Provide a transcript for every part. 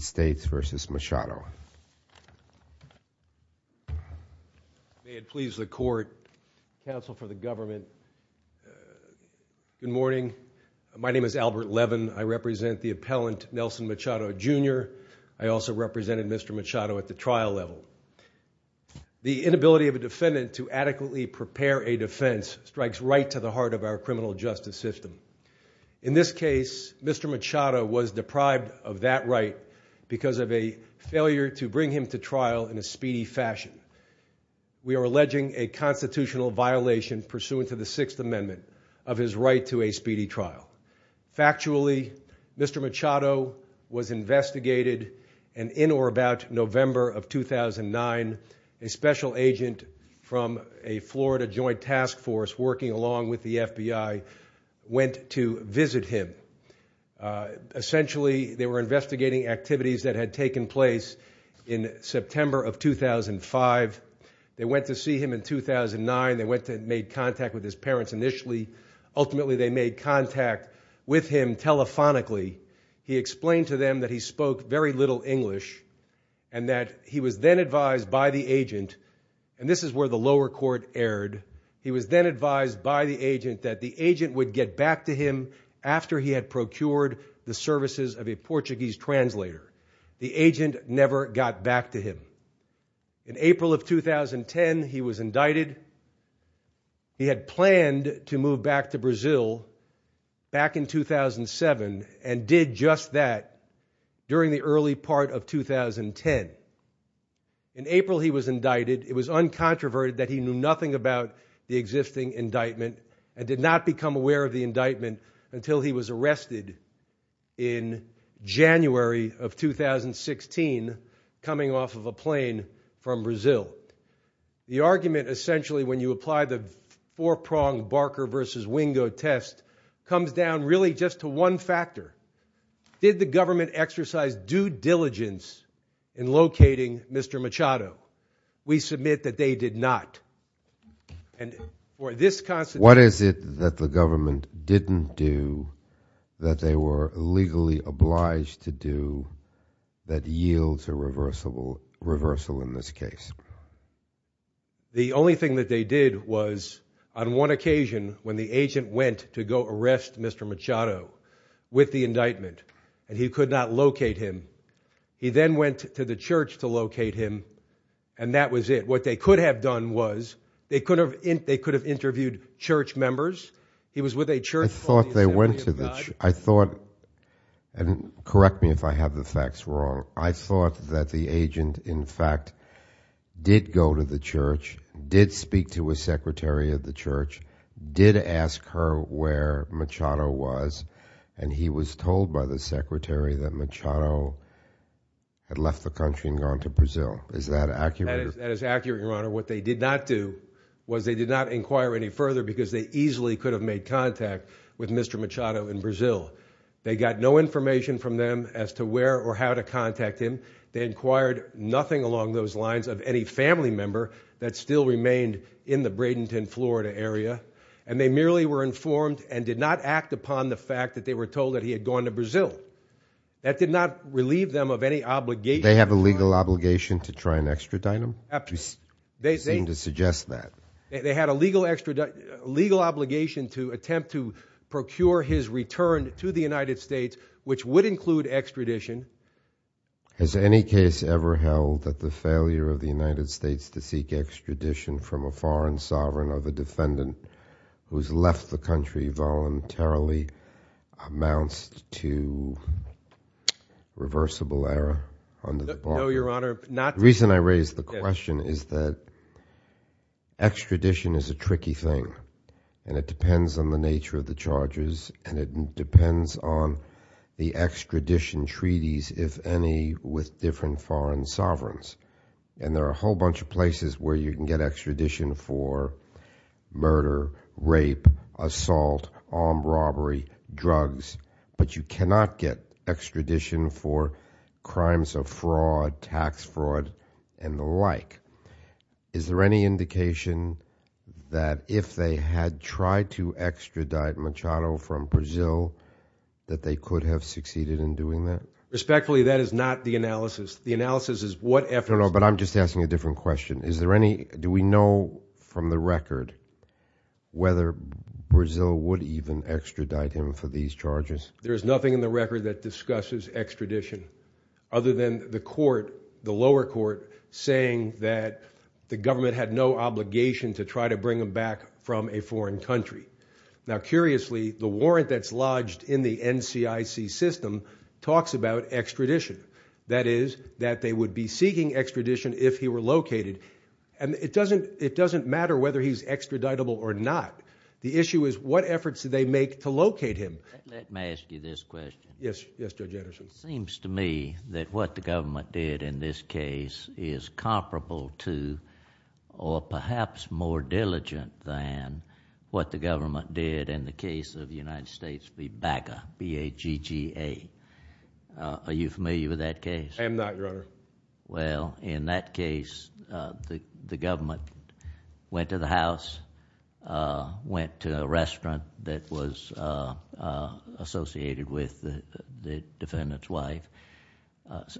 Good morning. My name is Albert Levin. I represent the appellant Nelson Machado, Jr. I also represented Mr. Machado at the trial level. The inability of a defendant to adequately prepare a defense strikes right to the heart of our criminal justice system. In this case, Mr. Machado was deprived of that right because of a failure to bring him to trial in a speedy fashion. We are alleging a constitutional violation pursuant to the Sixth Amendment of his right to a speedy trial. Factually, Mr. Machado was investigated and in or about November of 2009, a special agent from a Florida joint task force working along with the FBI went to visit him. Essentially, they were investigating activities that had taken place in September of 2005. They went to see him in 2009. They made contact with his parents initially. Ultimately, they made contact with him telephonically. He explained to them that he spoke very little English and that he was then advised by the agent, and this is where the lower court erred, he was then advised by the agent that the agent would get back to him after he had procured the services of a Portuguese translator. The agent never got back to him. In April of 2010, he was indicted. He had planned to move back to Brazil back in 2007 and did just that during the early part of 2010. In April, he was indicted. It was uncontroverted that he knew nothing about the existing indictment and did not become aware of the indictment until he was arrested in January of 2016, coming off of a plane from Brazil. The argument essentially when you apply the four-pronged Barker versus Wingo test comes down really just to one factor. Did the government exercise due diligence in locating Mr. Machado? We submit that they did not. What is it that the government didn't do that they were legally obliged to do that yields a reversal in this case? The only thing that they did was on one occasion when the agent went to go arrest Mr. Machado with the indictment and he could not locate him, he then went to the church. Correct me if I have the facts wrong. I thought that the agent in fact did go to the church, did speak to a secretary of the church, did ask her where Machado was and he was told by the secretary that Machado had left the country and gone to Brazil. Is that accurate? That is accurate, your honor. What they did not do was they did not inquire any further because they easily could have made contact with Mr. Machado in Brazil. They got no information from them as to where or how to contact him. They inquired nothing along those lines of any family member that still remained in the Bradenton, Florida area and they merely were informed and did not act upon the fact that they were told that he had gone to Brazil. That did not relieve them of any obligation. They have a legal obligation to try and extradite him? They seem to suggest that. They had a legal obligation to attempt to procure his return to the United States which would include extradition. Has any case ever held that the failure of the United States to seek extradition from a foreign sovereign of a defendant who's left the country voluntarily amounts to reversible error? No, your honor. The reason I raise the question is that extradition is a tricky thing and it depends on the nature of the charges and it depends on the extradition treaties, if any, with different foreign sovereigns. And there are a whole bunch of places where you can get extradition for crimes of fraud, tax fraud, and the like. Is there any indication that if they had tried to extradite Machado from Brazil that they could have succeeded in doing that? Respectfully, that is not the analysis. The analysis is what efforts... No, no, but I'm just asking a different question. Is there any, do we know from the record whether Brazil would even extradite him for these charges that discusses extradition other than the court, the lower court, saying that the government had no obligation to try to bring him back from a foreign country? Now, curiously, the warrant that's lodged in the NCIC system talks about extradition. That is, that they would be seeking extradition if he were located. And it doesn't matter whether he's extraditable or not. The issue is what efforts do they make to locate him? Let me ask you this question. Yes, Judge Anderson. It seems to me that what the government did in this case is comparable to, or perhaps more diligent than, what the government did in the case of the United States v. Baga, B-A-G-G-A. Are you familiar with that case? I am not, but in that case, the government went to the house, went to a restaurant that was associated with the defendant's wife.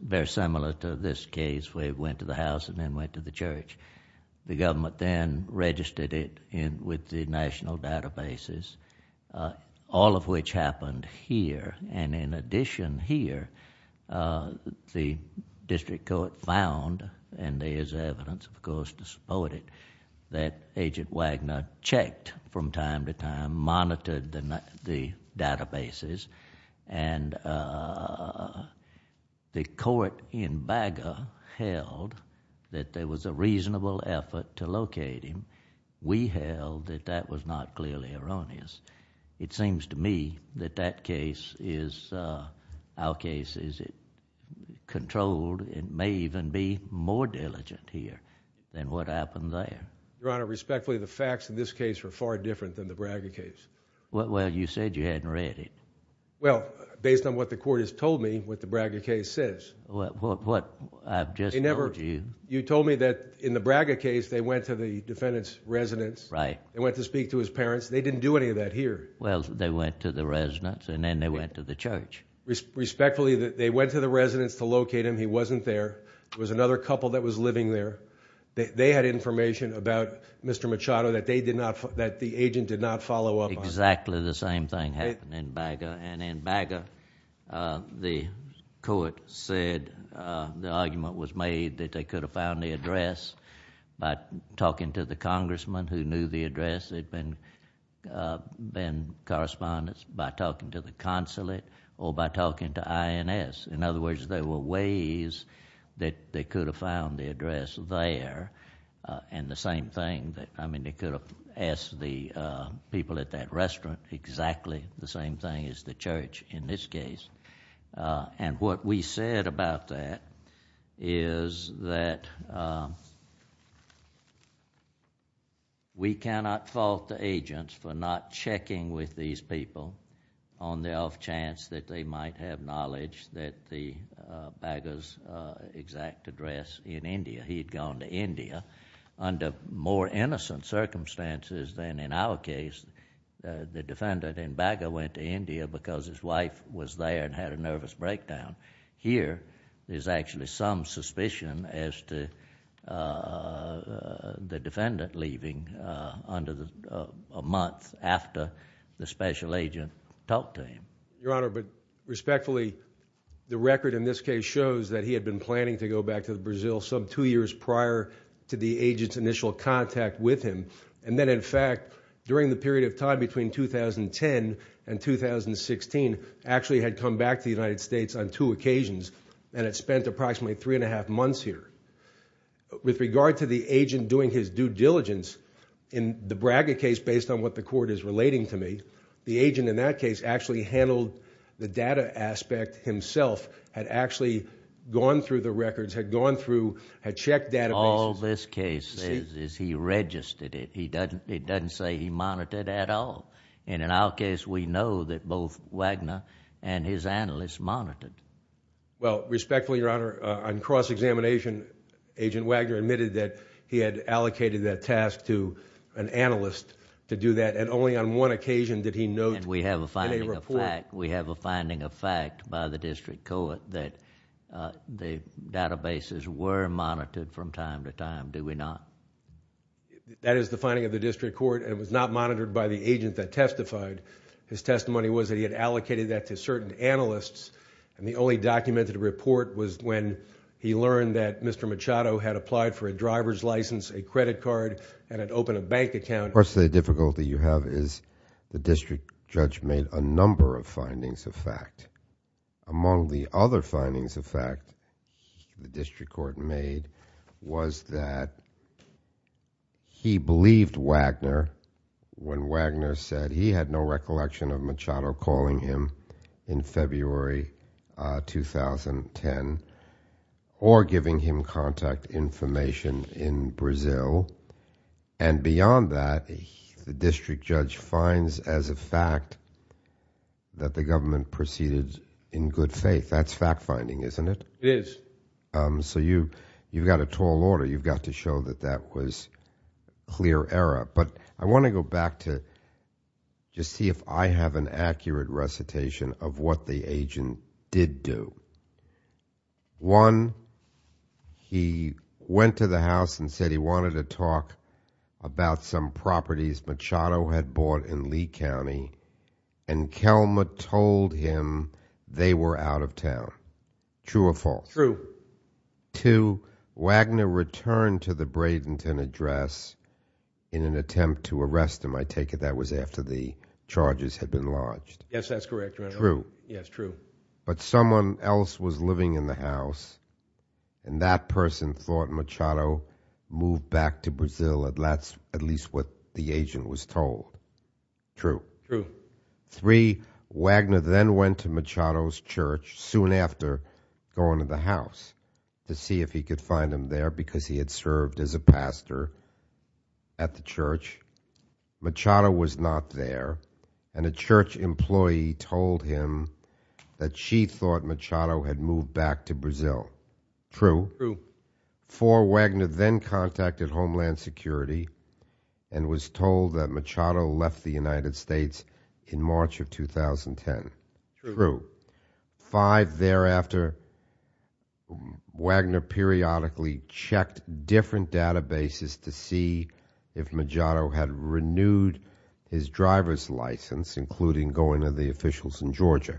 Very similar to this case, where he went to the house and then went to the church. The government then registered it with the national databases, all of which happened here. And in addition here, the district court found, and there's evidence, of course, to support it, that Agent Wagner checked from time to time, monitored the databases. And the court in Baga held that there was a reasonable effort to locate him. We held that that was not clearly erroneous. It seems to me that that case is, our case is, controlled and may even be more diligent here than what happened there. Your Honor, respectfully, the facts in this case are far different than the Baga case. Well, you said you hadn't read it. Well, based on what the court has told me, what the Baga case says. What I've just told you... You told me that in the Baga case, they went to the defendant's residence. Right. They went to speak to his parents. They didn't do any of that here. Well, they went to the residence, and then they went to the church. Respectfully, they went to the residence to locate him. He wasn't there. There was another couple that was living there. They had information about Mr. Machado that they did not, that the agent did not follow up on. Exactly the same thing happened in Baga. And in Baga, the court said, the argument was made that they could have found the address by talking to the congressman who knew the address. There had been correspondence by talking to the consulate or by talking to INS. In other words, there were ways that they could have found the address there. And the same thing, I mean, they could have asked the people at that restaurant exactly the same thing as the church in this case. And what we said about that is that we cannot fault the agents for not checking with these people on the off chance that they might have knowledge that the Baga's exact address in India. He had gone to India under more innocent circumstances than in our case. The defendant in Baga went to India because his wife was there and had a nervous breakdown. Here, there's actually some suspicion as to the defendant leaving under a month after the special agent talked to him. Your Honor, but respectfully, the record in this case shows that he had been planning to go back to Brazil some two years prior to the agent's initial contact with him. And then, in fact, during the period of time between 2010 and 2016, actually had come back to the United States on two occasions and had spent approximately three and a half months here. With regard to the agent doing his due diligence, in the Baga case, based on what the court is relating to me, the agent in that case actually handled the data aspect himself, had actually gone through the records, had gone through, had checked databases. All this case says is he registered it. He doesn't say he monitored at all. And in our case, we know that both Wagner and his analyst monitored. Well, respectfully, Your Honor, on cross-examination, Agent Wagner admitted that he had allocated that task to an analyst to do that. And only on one occasion did he note in a report... That is the finding of the district court, and it was not monitored by the agent that testified. His testimony was that he had allocated that to certain analysts. And the only documented report was when he learned that Mr. Machado had applied for a driver's license, a credit card, and had opened a bank account. Part of the difficulty you have is the district judge made a number of findings of fact. Among the other findings of fact the district court made was that he believed Wagner when Wagner said he had no recollection of Machado calling him in February 2010 or giving him contact information in Brazil. And beyond that, the district judge finds as a fact that the government proceeded in good faith. That's fact-finding, isn't it? It is. So you've got a tall order. You've got to show that that was clear error. But I want to go back to just see if I have an accurate recitation of what the agent did do. One, he went to the house and said he wanted to talk about some properties Machado had bought in Lee County, and Kelmer told him they were out of town. True or false? True. Two, Wagner returned to the Bradenton address in an attempt to arrest him. I take it that was after the charges had been lodged. Yes, that's correct, Your Honor. True? Yes, true. But someone else was living in the house, and that person thought Machado moved back to Brazil. That's at least what the agent was told. True? True. Three, Wagner then went to Machado's church soon after going to the house to see if he could find him there because he had served as a pastor at the church. Machado was not there, and a church employee told him that she thought Machado had moved back to Brazil. True? True. Four, Wagner then contacted Homeland Security and was told that Machado left the United States in March of 2010. True. Five, thereafter, Wagner periodically checked different databases to see if Machado had renewed his driver's license, including going to the officials in Georgia.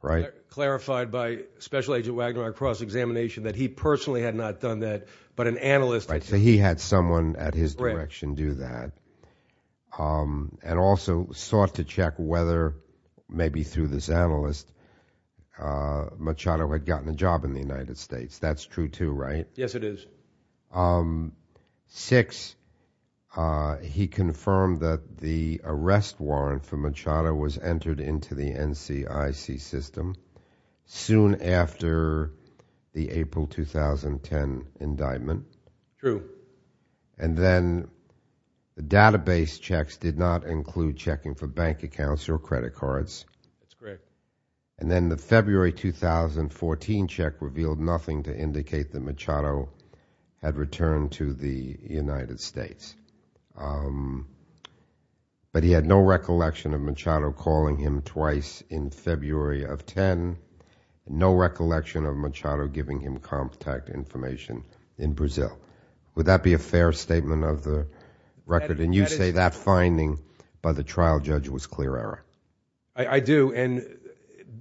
Right? Clarified by Special Agent Wagner on cross-examination that he personally had not done that, but an analyst had. Right, so he had someone at his direction do that. Right. And also sought to check whether, maybe through this analyst, Machado had gotten a job in the United States. That's true, too, right? Yes, it is. Six, he confirmed that the arrest warrant for Machado was entered into the NCIC system soon after the April 2010 indictment. True. And then the database checks did not include checking for bank accounts or credit cards. That's correct. And then the February 2014 check revealed nothing to indicate that Machado had returned to the United States. But he had no recollection of Machado calling him twice in February of 10, and no recollection of Machado giving him contact information in Brazil. Would that be a fair statement of the record? And you say that finding by the trial judge was clear, Eric? I do, and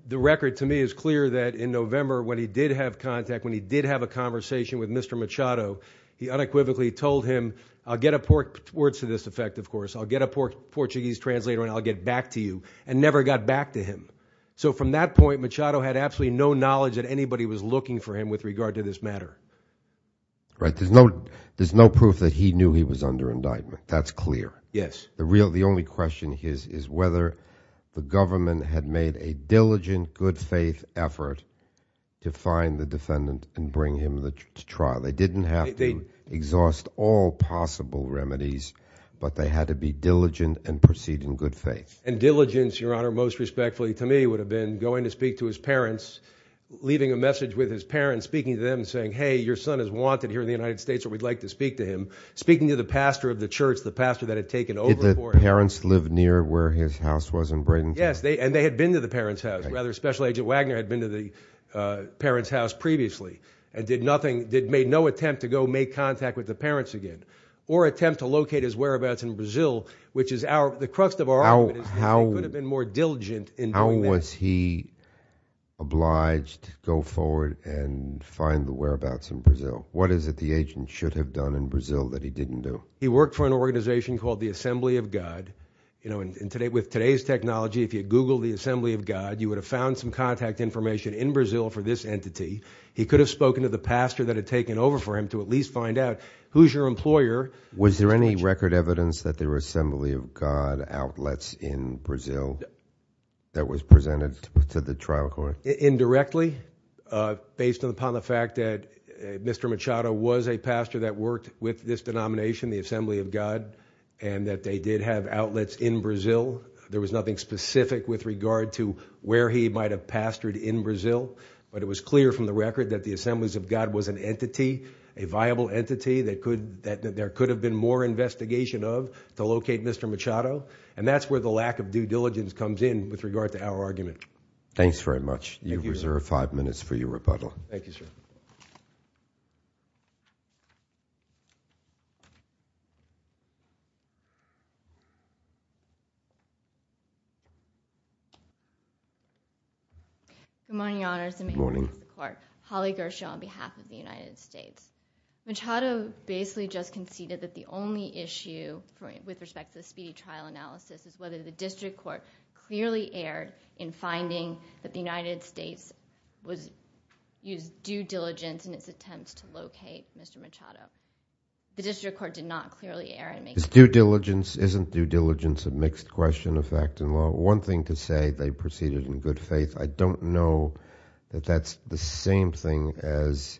the record to me is clear that in November, when he did have contact, when he did have a conversation with Mr. Machado, he unequivocally told him, I'll get a Portuguese translator and I'll get back to you, and never got back to him. So from that point, Machado had absolutely no knowledge that anybody was looking for him with regard to this matter. Right. There's no proof that he knew he was under indictment. That's clear. Yes. The only question is whether the government had made a diligent, good-faith effort to find the defendant and bring him to trial. They didn't have to exhaust all possible remedies, but they had to be diligent and proceed in good faith. Diligence, Your Honor, most respectfully to me, would have been going to speak to his parents, leaving a message with his parents, speaking to them and saying, hey, your son is wanted here in the United States, or we'd like to speak to him, speaking to the pastor of the church, the pastor that had taken over for him. Did the parents live near where his house was in Bradenton? Yes, and they had been to the parents' house. Rather, Special Agent Wagner had been to the parents' house previously, and made no attempt to go make contact with the parents again, or attempt to locate his whereabouts in Brazil, which is the crux of our argument is that he could have been more diligent in doing that. How was he obliged to go forward and find the whereabouts in Brazil? What is it the agent should have done in Brazil that he didn't do? He worked for an organization called the Assembly of God. With today's technology, if you Google the Assembly of God, you would have found some contact information in Brazil for this entity. He could have spoken to the pastor that had taken over for him to at least find out who's your employer. Was there any record evidence that there were Assembly of God outlets in Brazil that was presented to the trial court? Indirectly, based upon the fact that Mr. Machado was a pastor that worked with this denomination, the Assembly of God, and that they did have outlets in Brazil. There was nothing specific with regard to where he might have pastored in Brazil, but it was clear from the record that the Assembly of God was an entity, a viable entity, that there could have been more investigation of to locate Mr. Machado. And that's where the lack of due diligence comes in with regard to our argument. Thanks very much. You've reserved five minutes for your rebuttal. Thank you, sir. Good morning, Your Honors. Good morning. I'm Holly Gershaw on behalf of the United States. Machado basically just conceded that the only issue with respect to the speedy trial analysis is whether the district court clearly erred in finding that the United States used due diligence in its attempts to locate Mr. Machado. The district court did not clearly err. Is due diligence – isn't due diligence a mixed question of fact and law? One thing to say, they proceeded in good faith. I don't know that that's the same thing as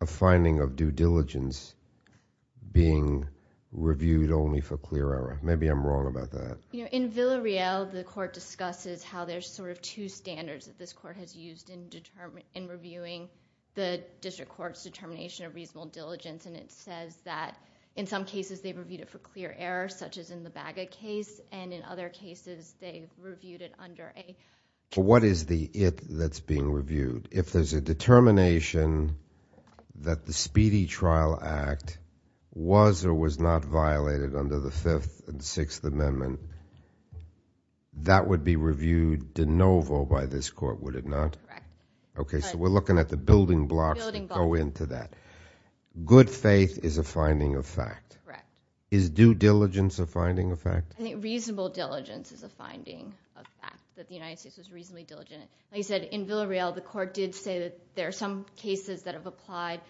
a finding of due diligence being reviewed only for clear error. Maybe I'm wrong about that. In Villarreal, the court discusses how there's sort of two standards that this court has used in reviewing the district court's determination of reasonable diligence, and it says that in some cases they've reviewed it for clear error, such as in the Baga case, and in other cases they've reviewed it under a – What is the it that's being reviewed? If there's a determination that the Speedy Trial Act was or was not violated under the Fifth and Sixth Amendment, that would be reviewed de novo by this court, would it not? Correct. Okay, so we're looking at the building blocks that go into that. Good faith is a finding of fact. Correct. Is due diligence a finding of fact? I think reasonable diligence is a finding of fact, that the United States was reasonably diligent. Like I said, in Villarreal, the court did say that there are some cases that have applied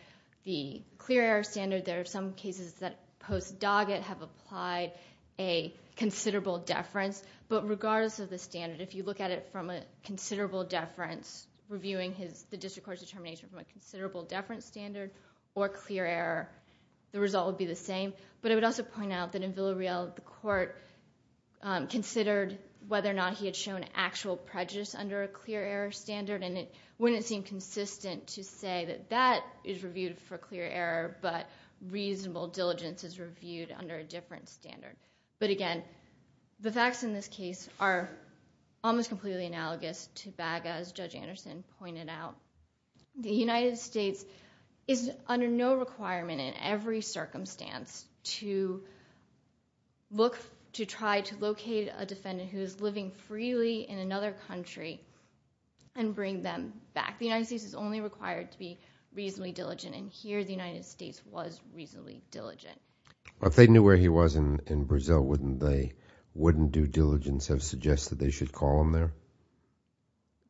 the clear error standard. There are some cases that post-Doggett have applied a considerable deference. But regardless of the standard, if you look at it from a considerable deference, reviewing the district court's determination from a considerable deference standard or clear error, the result would be the same. But I would also point out that in Villarreal, the court considered whether or not he had shown actual prejudice under a clear error standard, and it wouldn't seem consistent to say that that is reviewed for clear error, but reasonable diligence is reviewed under a different standard. But, again, the facts in this case are almost completely analogous to BAGA, as Judge Anderson pointed out. The United States is under no requirement in every circumstance to try to locate a defendant who is living freely in another country and bring them back. The United States is only required to be reasonably diligent, and here the United States was reasonably diligent. If they knew where he was in Brazil, wouldn't due diligence have suggested they should call him there?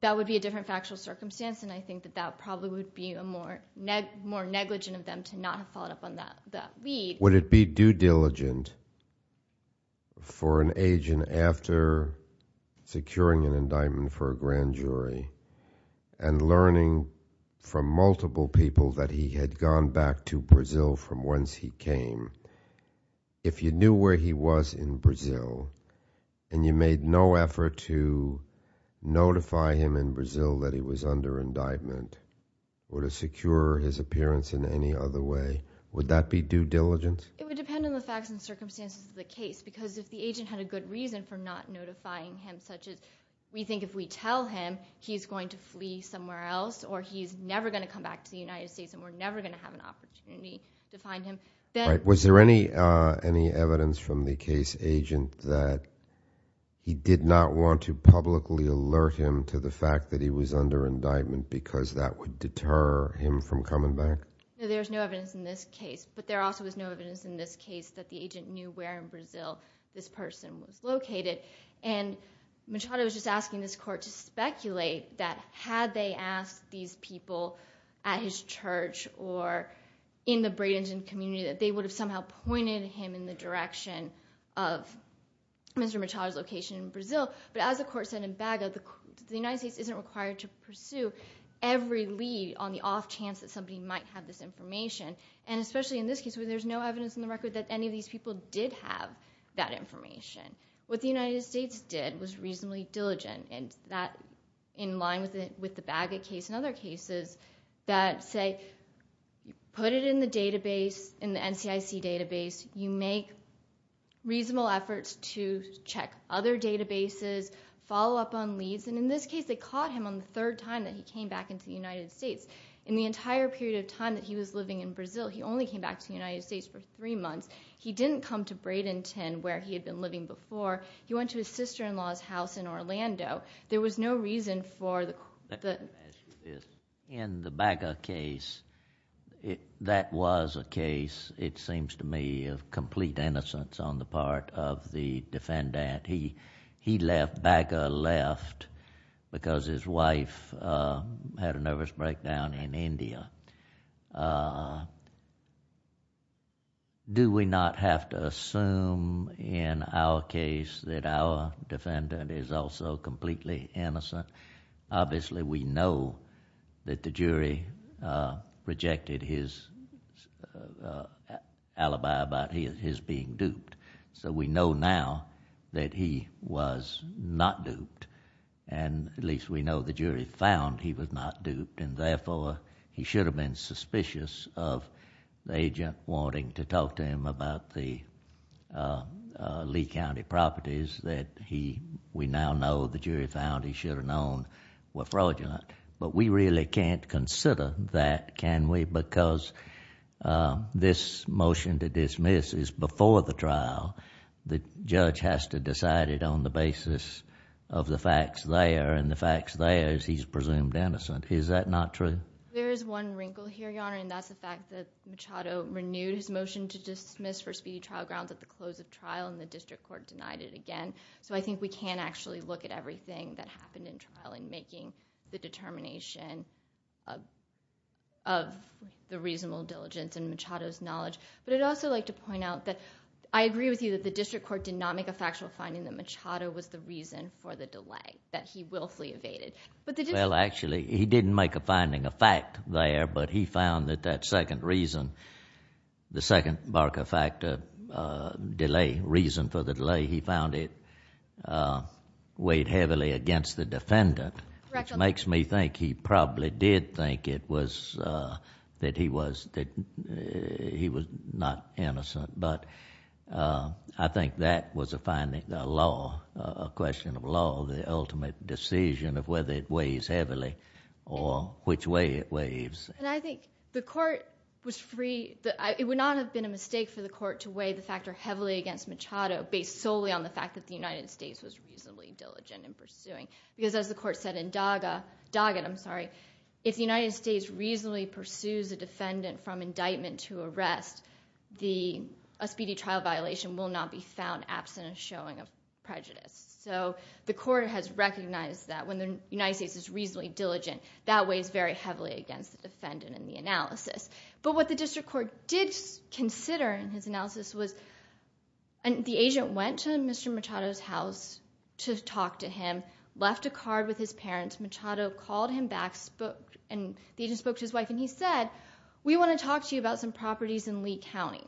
That would be a different factual circumstance, and I think that that probably would be more negligent of them to not have followed up on that lead. Would it be due diligent for an agent, after securing an indictment for a grand jury, and learning from multiple people that he had gone back to Brazil from whence he came, if you knew where he was in Brazil and you made no effort to notify him in Brazil that he was under indictment, or to secure his appearance in any other way, would that be due diligence? It would depend on the facts and circumstances of the case, because if the agent had a good reason for not notifying him, such as we think if we tell him he's going to flee somewhere else or he's never going to come back to the United States and we're never going to have an opportunity to find him, Was there any evidence from the case agent that he did not want to publicly alert him to the fact that he was under indictment because that would deter him from coming back? No, there's no evidence in this case. But there also was no evidence in this case that the agent knew where in Brazil this person was located. And Machado was just asking this court to speculate that had they asked these people at his church or in the Bradenton community that they would have somehow pointed him in the direction of Mr. Machado's location in Brazil. But as the court said in Baga, the United States isn't required to pursue every lead on the off chance that somebody might have this information. And especially in this case where there's no evidence in the record that any of these people did have that information. What the United States did was reasonably diligent, in line with the Baga case and other cases that say put it in the NCIC database. You make reasonable efforts to check other databases, follow up on leads. And in this case they caught him on the third time that he came back into the United States. In the entire period of time that he was living in Brazil, he only came back to the United States for three months. He didn't come to Bradenton where he had been living before. He went to his sister-in-law's house in Orlando. There was no reason for the... In the Baga case, that was a case, it seems to me, of complete innocence on the part of the defendant. He left, Baga left, because his wife had a nervous breakdown in India. Do we not have to assume in our case that our defendant is also completely innocent? Obviously we know that the jury rejected his alibi about his being duped. So we know now that he was not duped. And at least we know the jury found he was not duped. And therefore he should have been suspicious of the agent wanting to talk to him about the Lee County properties that we now know the jury found he should have known were fraudulent. But we really can't consider that, can we? Because this motion to dismiss is before the trial. The judge has to decide it on the basis of the facts there. And the facts there is he's presumed innocent. Is that not true? There is one wrinkle here, Your Honor. And that's the fact that Machado renewed his motion to dismiss for speedy trial grounds at the close of trial and the district court denied it again. So I think we can't actually look at everything that happened in trial in making the determination of the reasonable diligence in Machado's knowledge. But I'd also like to point out that I agree with you that the district court did not make a factual finding that Machado was the reason for the delay, that he willfully evaded. Well, actually, he didn't make a finding, a fact there, but he found that that second reason, the second bark of fact, delay, reason for the delay, he found it weighed heavily against the defendant. Which makes me think he probably did think it was that he was not innocent. But I think that was a finding, a law, a question of law, the ultimate decision of whether it weighs heavily or which way it weighs. And I think the court was free. It would not have been a mistake for the court to weigh the factor heavily against Machado based solely on the fact that the United States was reasonably diligent in pursuing. Because as the court said in Doggett, if the United States reasonably pursues a defendant from indictment to arrest, a speedy trial violation will not be found absent a showing of prejudice. So the court has recognized that when the United States is reasonably diligent, that weighs very heavily against the defendant in the analysis. But what the district court did consider in his analysis was the agent went to Mr. Machado's house to talk to him, left a card with his parents. Machado called him back and the agent spoke to his wife and he said, we want to talk to you about some properties in Lee County.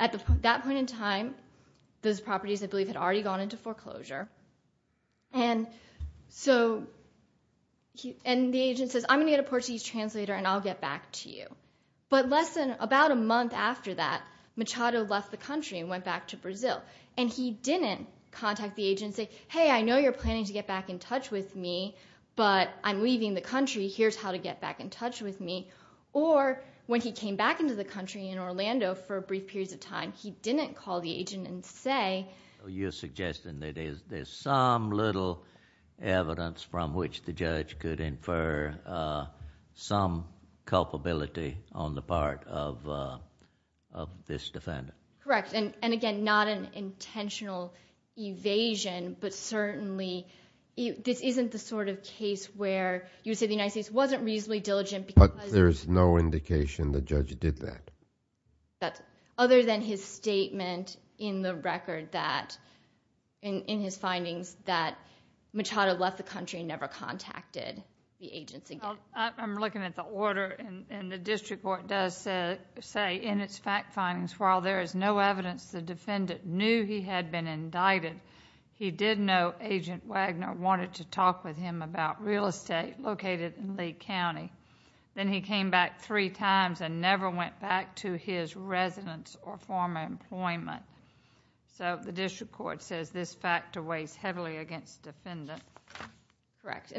At that point in time, those properties I believe had already gone into foreclosure. And the agent says, I'm going to get a Portuguese translator and I'll get back to you. But less than about a month after that, Machado left the country and went back to Brazil. And he didn't contact the agent and say, hey, I know you're planning to get back in touch with me, but I'm leaving the country, here's how to get back in touch with me. Or when he came back into the country in Orlando for brief periods of time, he didn't call the agent and say. You're suggesting that there's some little evidence from which the judge could infer some culpability on the part of this defendant. Correct. And again, not an intentional evasion, but certainly this isn't the sort of case where you would say the United States wasn't reasonably diligent because... But there's no indication the judge did that. Other than his statement in the record that... in his findings that Machado left the country and never contacted the agents again. I'm looking at the order and the district court does say in its fact findings, while there is no evidence the defendant knew he had been indicted, he did know Agent Wagner wanted to talk with him about real estate located in Lee County. Then he came back three times and never went back to his residence or former employment. So the district court says this fact weighs heavily against the defendant. Correct.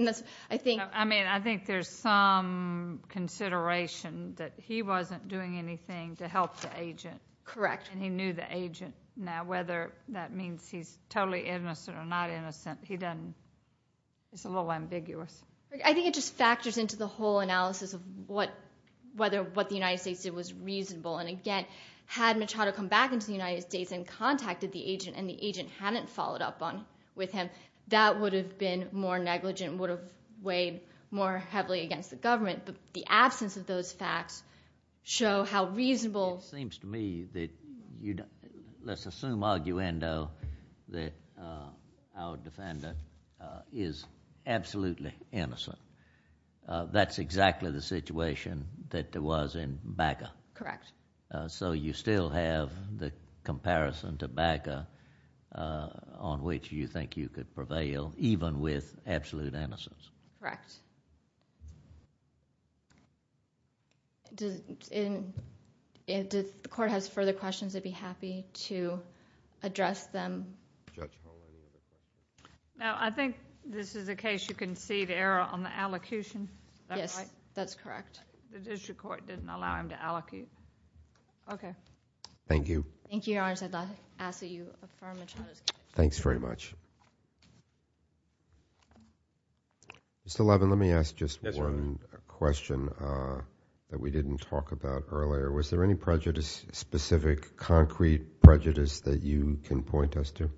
I mean, I think there's some consideration that he wasn't doing anything to help the agent. Correct. And he knew the agent. Now, whether that means he's totally innocent or not innocent, he doesn't... it's a little ambiguous. I think it just factors into the whole analysis of whether what the United States did was reasonable. And again, had Machado come back into the United States and contacted the agent, and the agent hadn't followed up with him, that would have been more negligent and would have weighed more heavily against the government. But the absence of those facts show how reasonable... It seems to me that you... let's assume arguendo that our defendant is absolutely innocent. That's exactly the situation that there was in Baca. Correct. So you still have the comparison to Baca on which you think you could prevail, even with absolute innocence. Correct. If the court has further questions, I'd be happy to address them. Now, I think this is a case you can see the error on the allocution. Is that right? Yes, that's correct. The district court didn't allow him to allocate. Okay. Thank you. Thank you, Your Honor. I ask that you affirm Machado's case. Thanks very much. Mr. Levin, let me ask just one question that we didn't talk about earlier. Was there any prejudice, specific, concrete prejudice that you can point us to,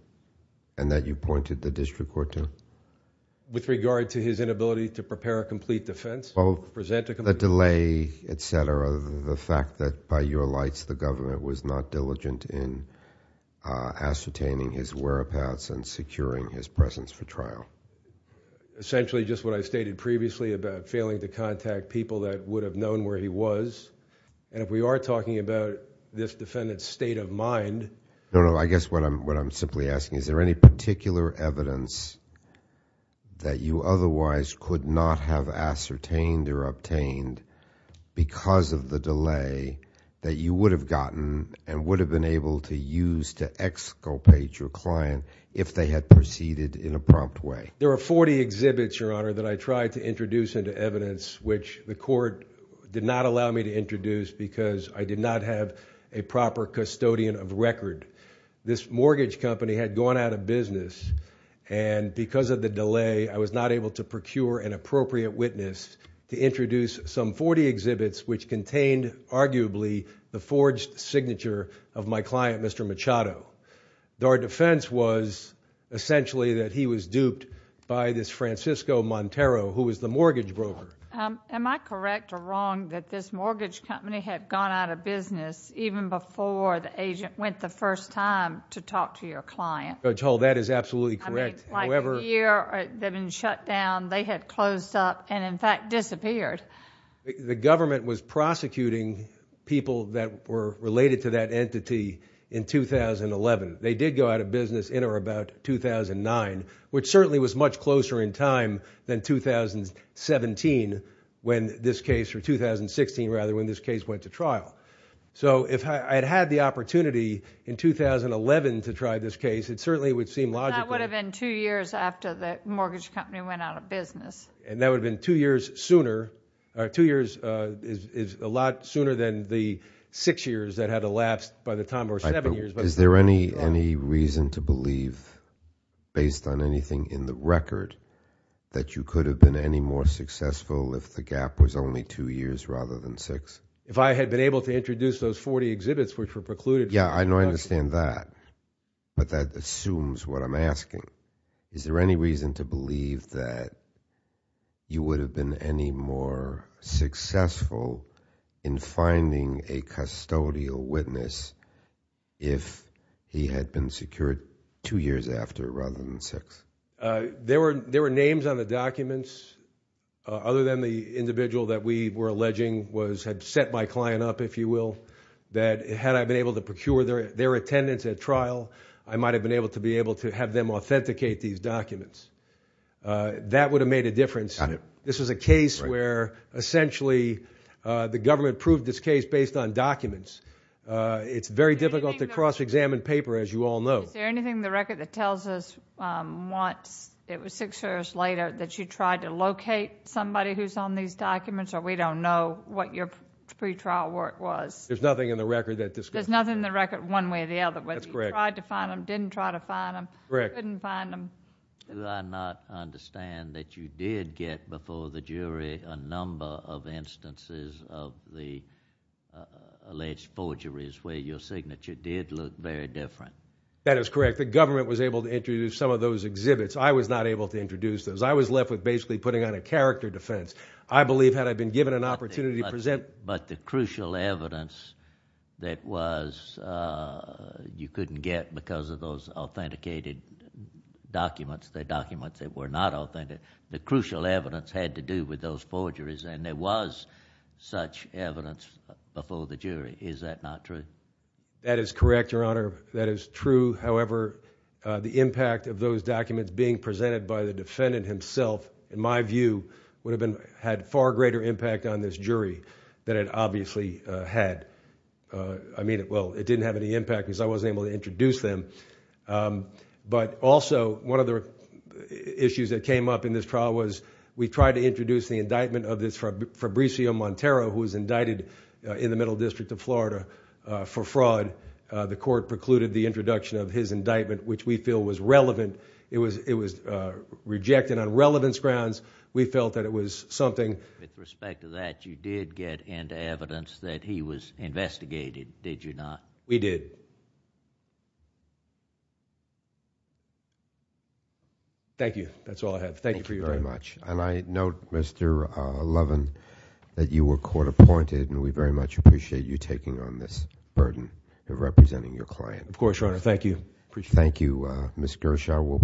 and that you pointed the district court to? With regard to his inability to prepare a complete defense? The delay, et cetera, the fact that, by your lights, the government was not diligent in ascertaining his whereabouts and securing his presence for trial. Essentially, just what I stated previously about failing to contact people that would have known where he was. If we are talking about this defendant's state of mind... because of the delay that you would have gotten and would have been able to use to exculpate your client if they had proceeded in a prompt way. There are 40 exhibits, Your Honor, that I tried to introduce into evidence, which the court did not allow me to introduce because I did not have a proper custodian of record. This mortgage company had gone out of business, and because of the delay, I was not able to procure an appropriate witness to introduce some 40 exhibits, which contained, arguably, the forged signature of my client, Mr. Machado. Our defense was, essentially, that he was duped by this Francisco Montero, who was the mortgage broker. Am I correct or wrong that this mortgage company had gone out of business even before the agent went the first time to talk to your client? Judge Hull, that is absolutely correct. I mean, like a year, they've been shut down. They had closed up and, in fact, disappeared. The government was prosecuting people that were related to that entity in 2011. They did go out of business in or about 2009, which certainly was much closer in time than 2017 when this case, or 2016, rather, when this case went to trial. So if I had had the opportunity in 2011 to try this case, it certainly would seem logical. That would have been two years after the mortgage company went out of business. And that would have been two years sooner. Two years is a lot sooner than the six years that had elapsed by the time, or seven years. Is there any reason to believe, based on anything in the record, that you could have been any more successful if the gap was only two years rather than six? If I had been able to introduce those 40 exhibits, which were precluded from production. Yeah, I understand that. But that assumes what I'm asking. Is there any reason to believe that you would have been any more successful in finding a custodial witness if he had been secured two years after rather than six? There were names on the documents, other than the individual that we were alleging had set my client up, if you will, that had I been able to procure their attendance at trial, I might have been able to have them authenticate these documents. That would have made a difference. Got it. This was a case where essentially the government proved this case based on documents. It's very difficult to cross-examine paper, as you all know. Is there anything in the record that tells us once it was six years later that you tried to locate somebody who's on these documents, or we don't know what your pretrial work was? There's nothing in the record that does that. There's nothing in the record one way or the other. That's correct. Whether you tried to find them, didn't try to find them. Correct. Couldn't find them. Do I not understand that you did get before the jury a number of instances of the alleged forgeries where your signature did look very different? That is correct. The government was able to introduce some of those exhibits. I was not able to introduce those. I was left with basically putting on a character defense. But the crucial evidence that you couldn't get because of those authenticated documents, the documents that were not authentic, the crucial evidence had to do with those forgeries, and there was such evidence before the jury. Is that not true? That is correct, Your Honor. That is true. However, the impact of those documents being presented by the defendant himself, in my view, would have had far greater impact on this jury than it obviously had. I mean, well, it didn't have any impact because I wasn't able to introduce them. But also, one of the issues that came up in this trial was we tried to introduce the indictment of this Fabrizio Montero, who was indicted in the Middle District of Florida for fraud. The court precluded the introduction of his indictment, which we feel was relevant. It was rejected on relevance grounds. We felt that it was something... With respect to that, you did get into evidence that he was investigated, did you not? We did. Thank you. That's all I have. Thank you for your time. Thank you very much. I note, Mr. Levin, that you were court-appointed, and we very much appreciate you taking on this burden of representing your client. Of course, Your Honor. Thank you. Thank you, Ms. Gershaw. We'll proceed to the next witness.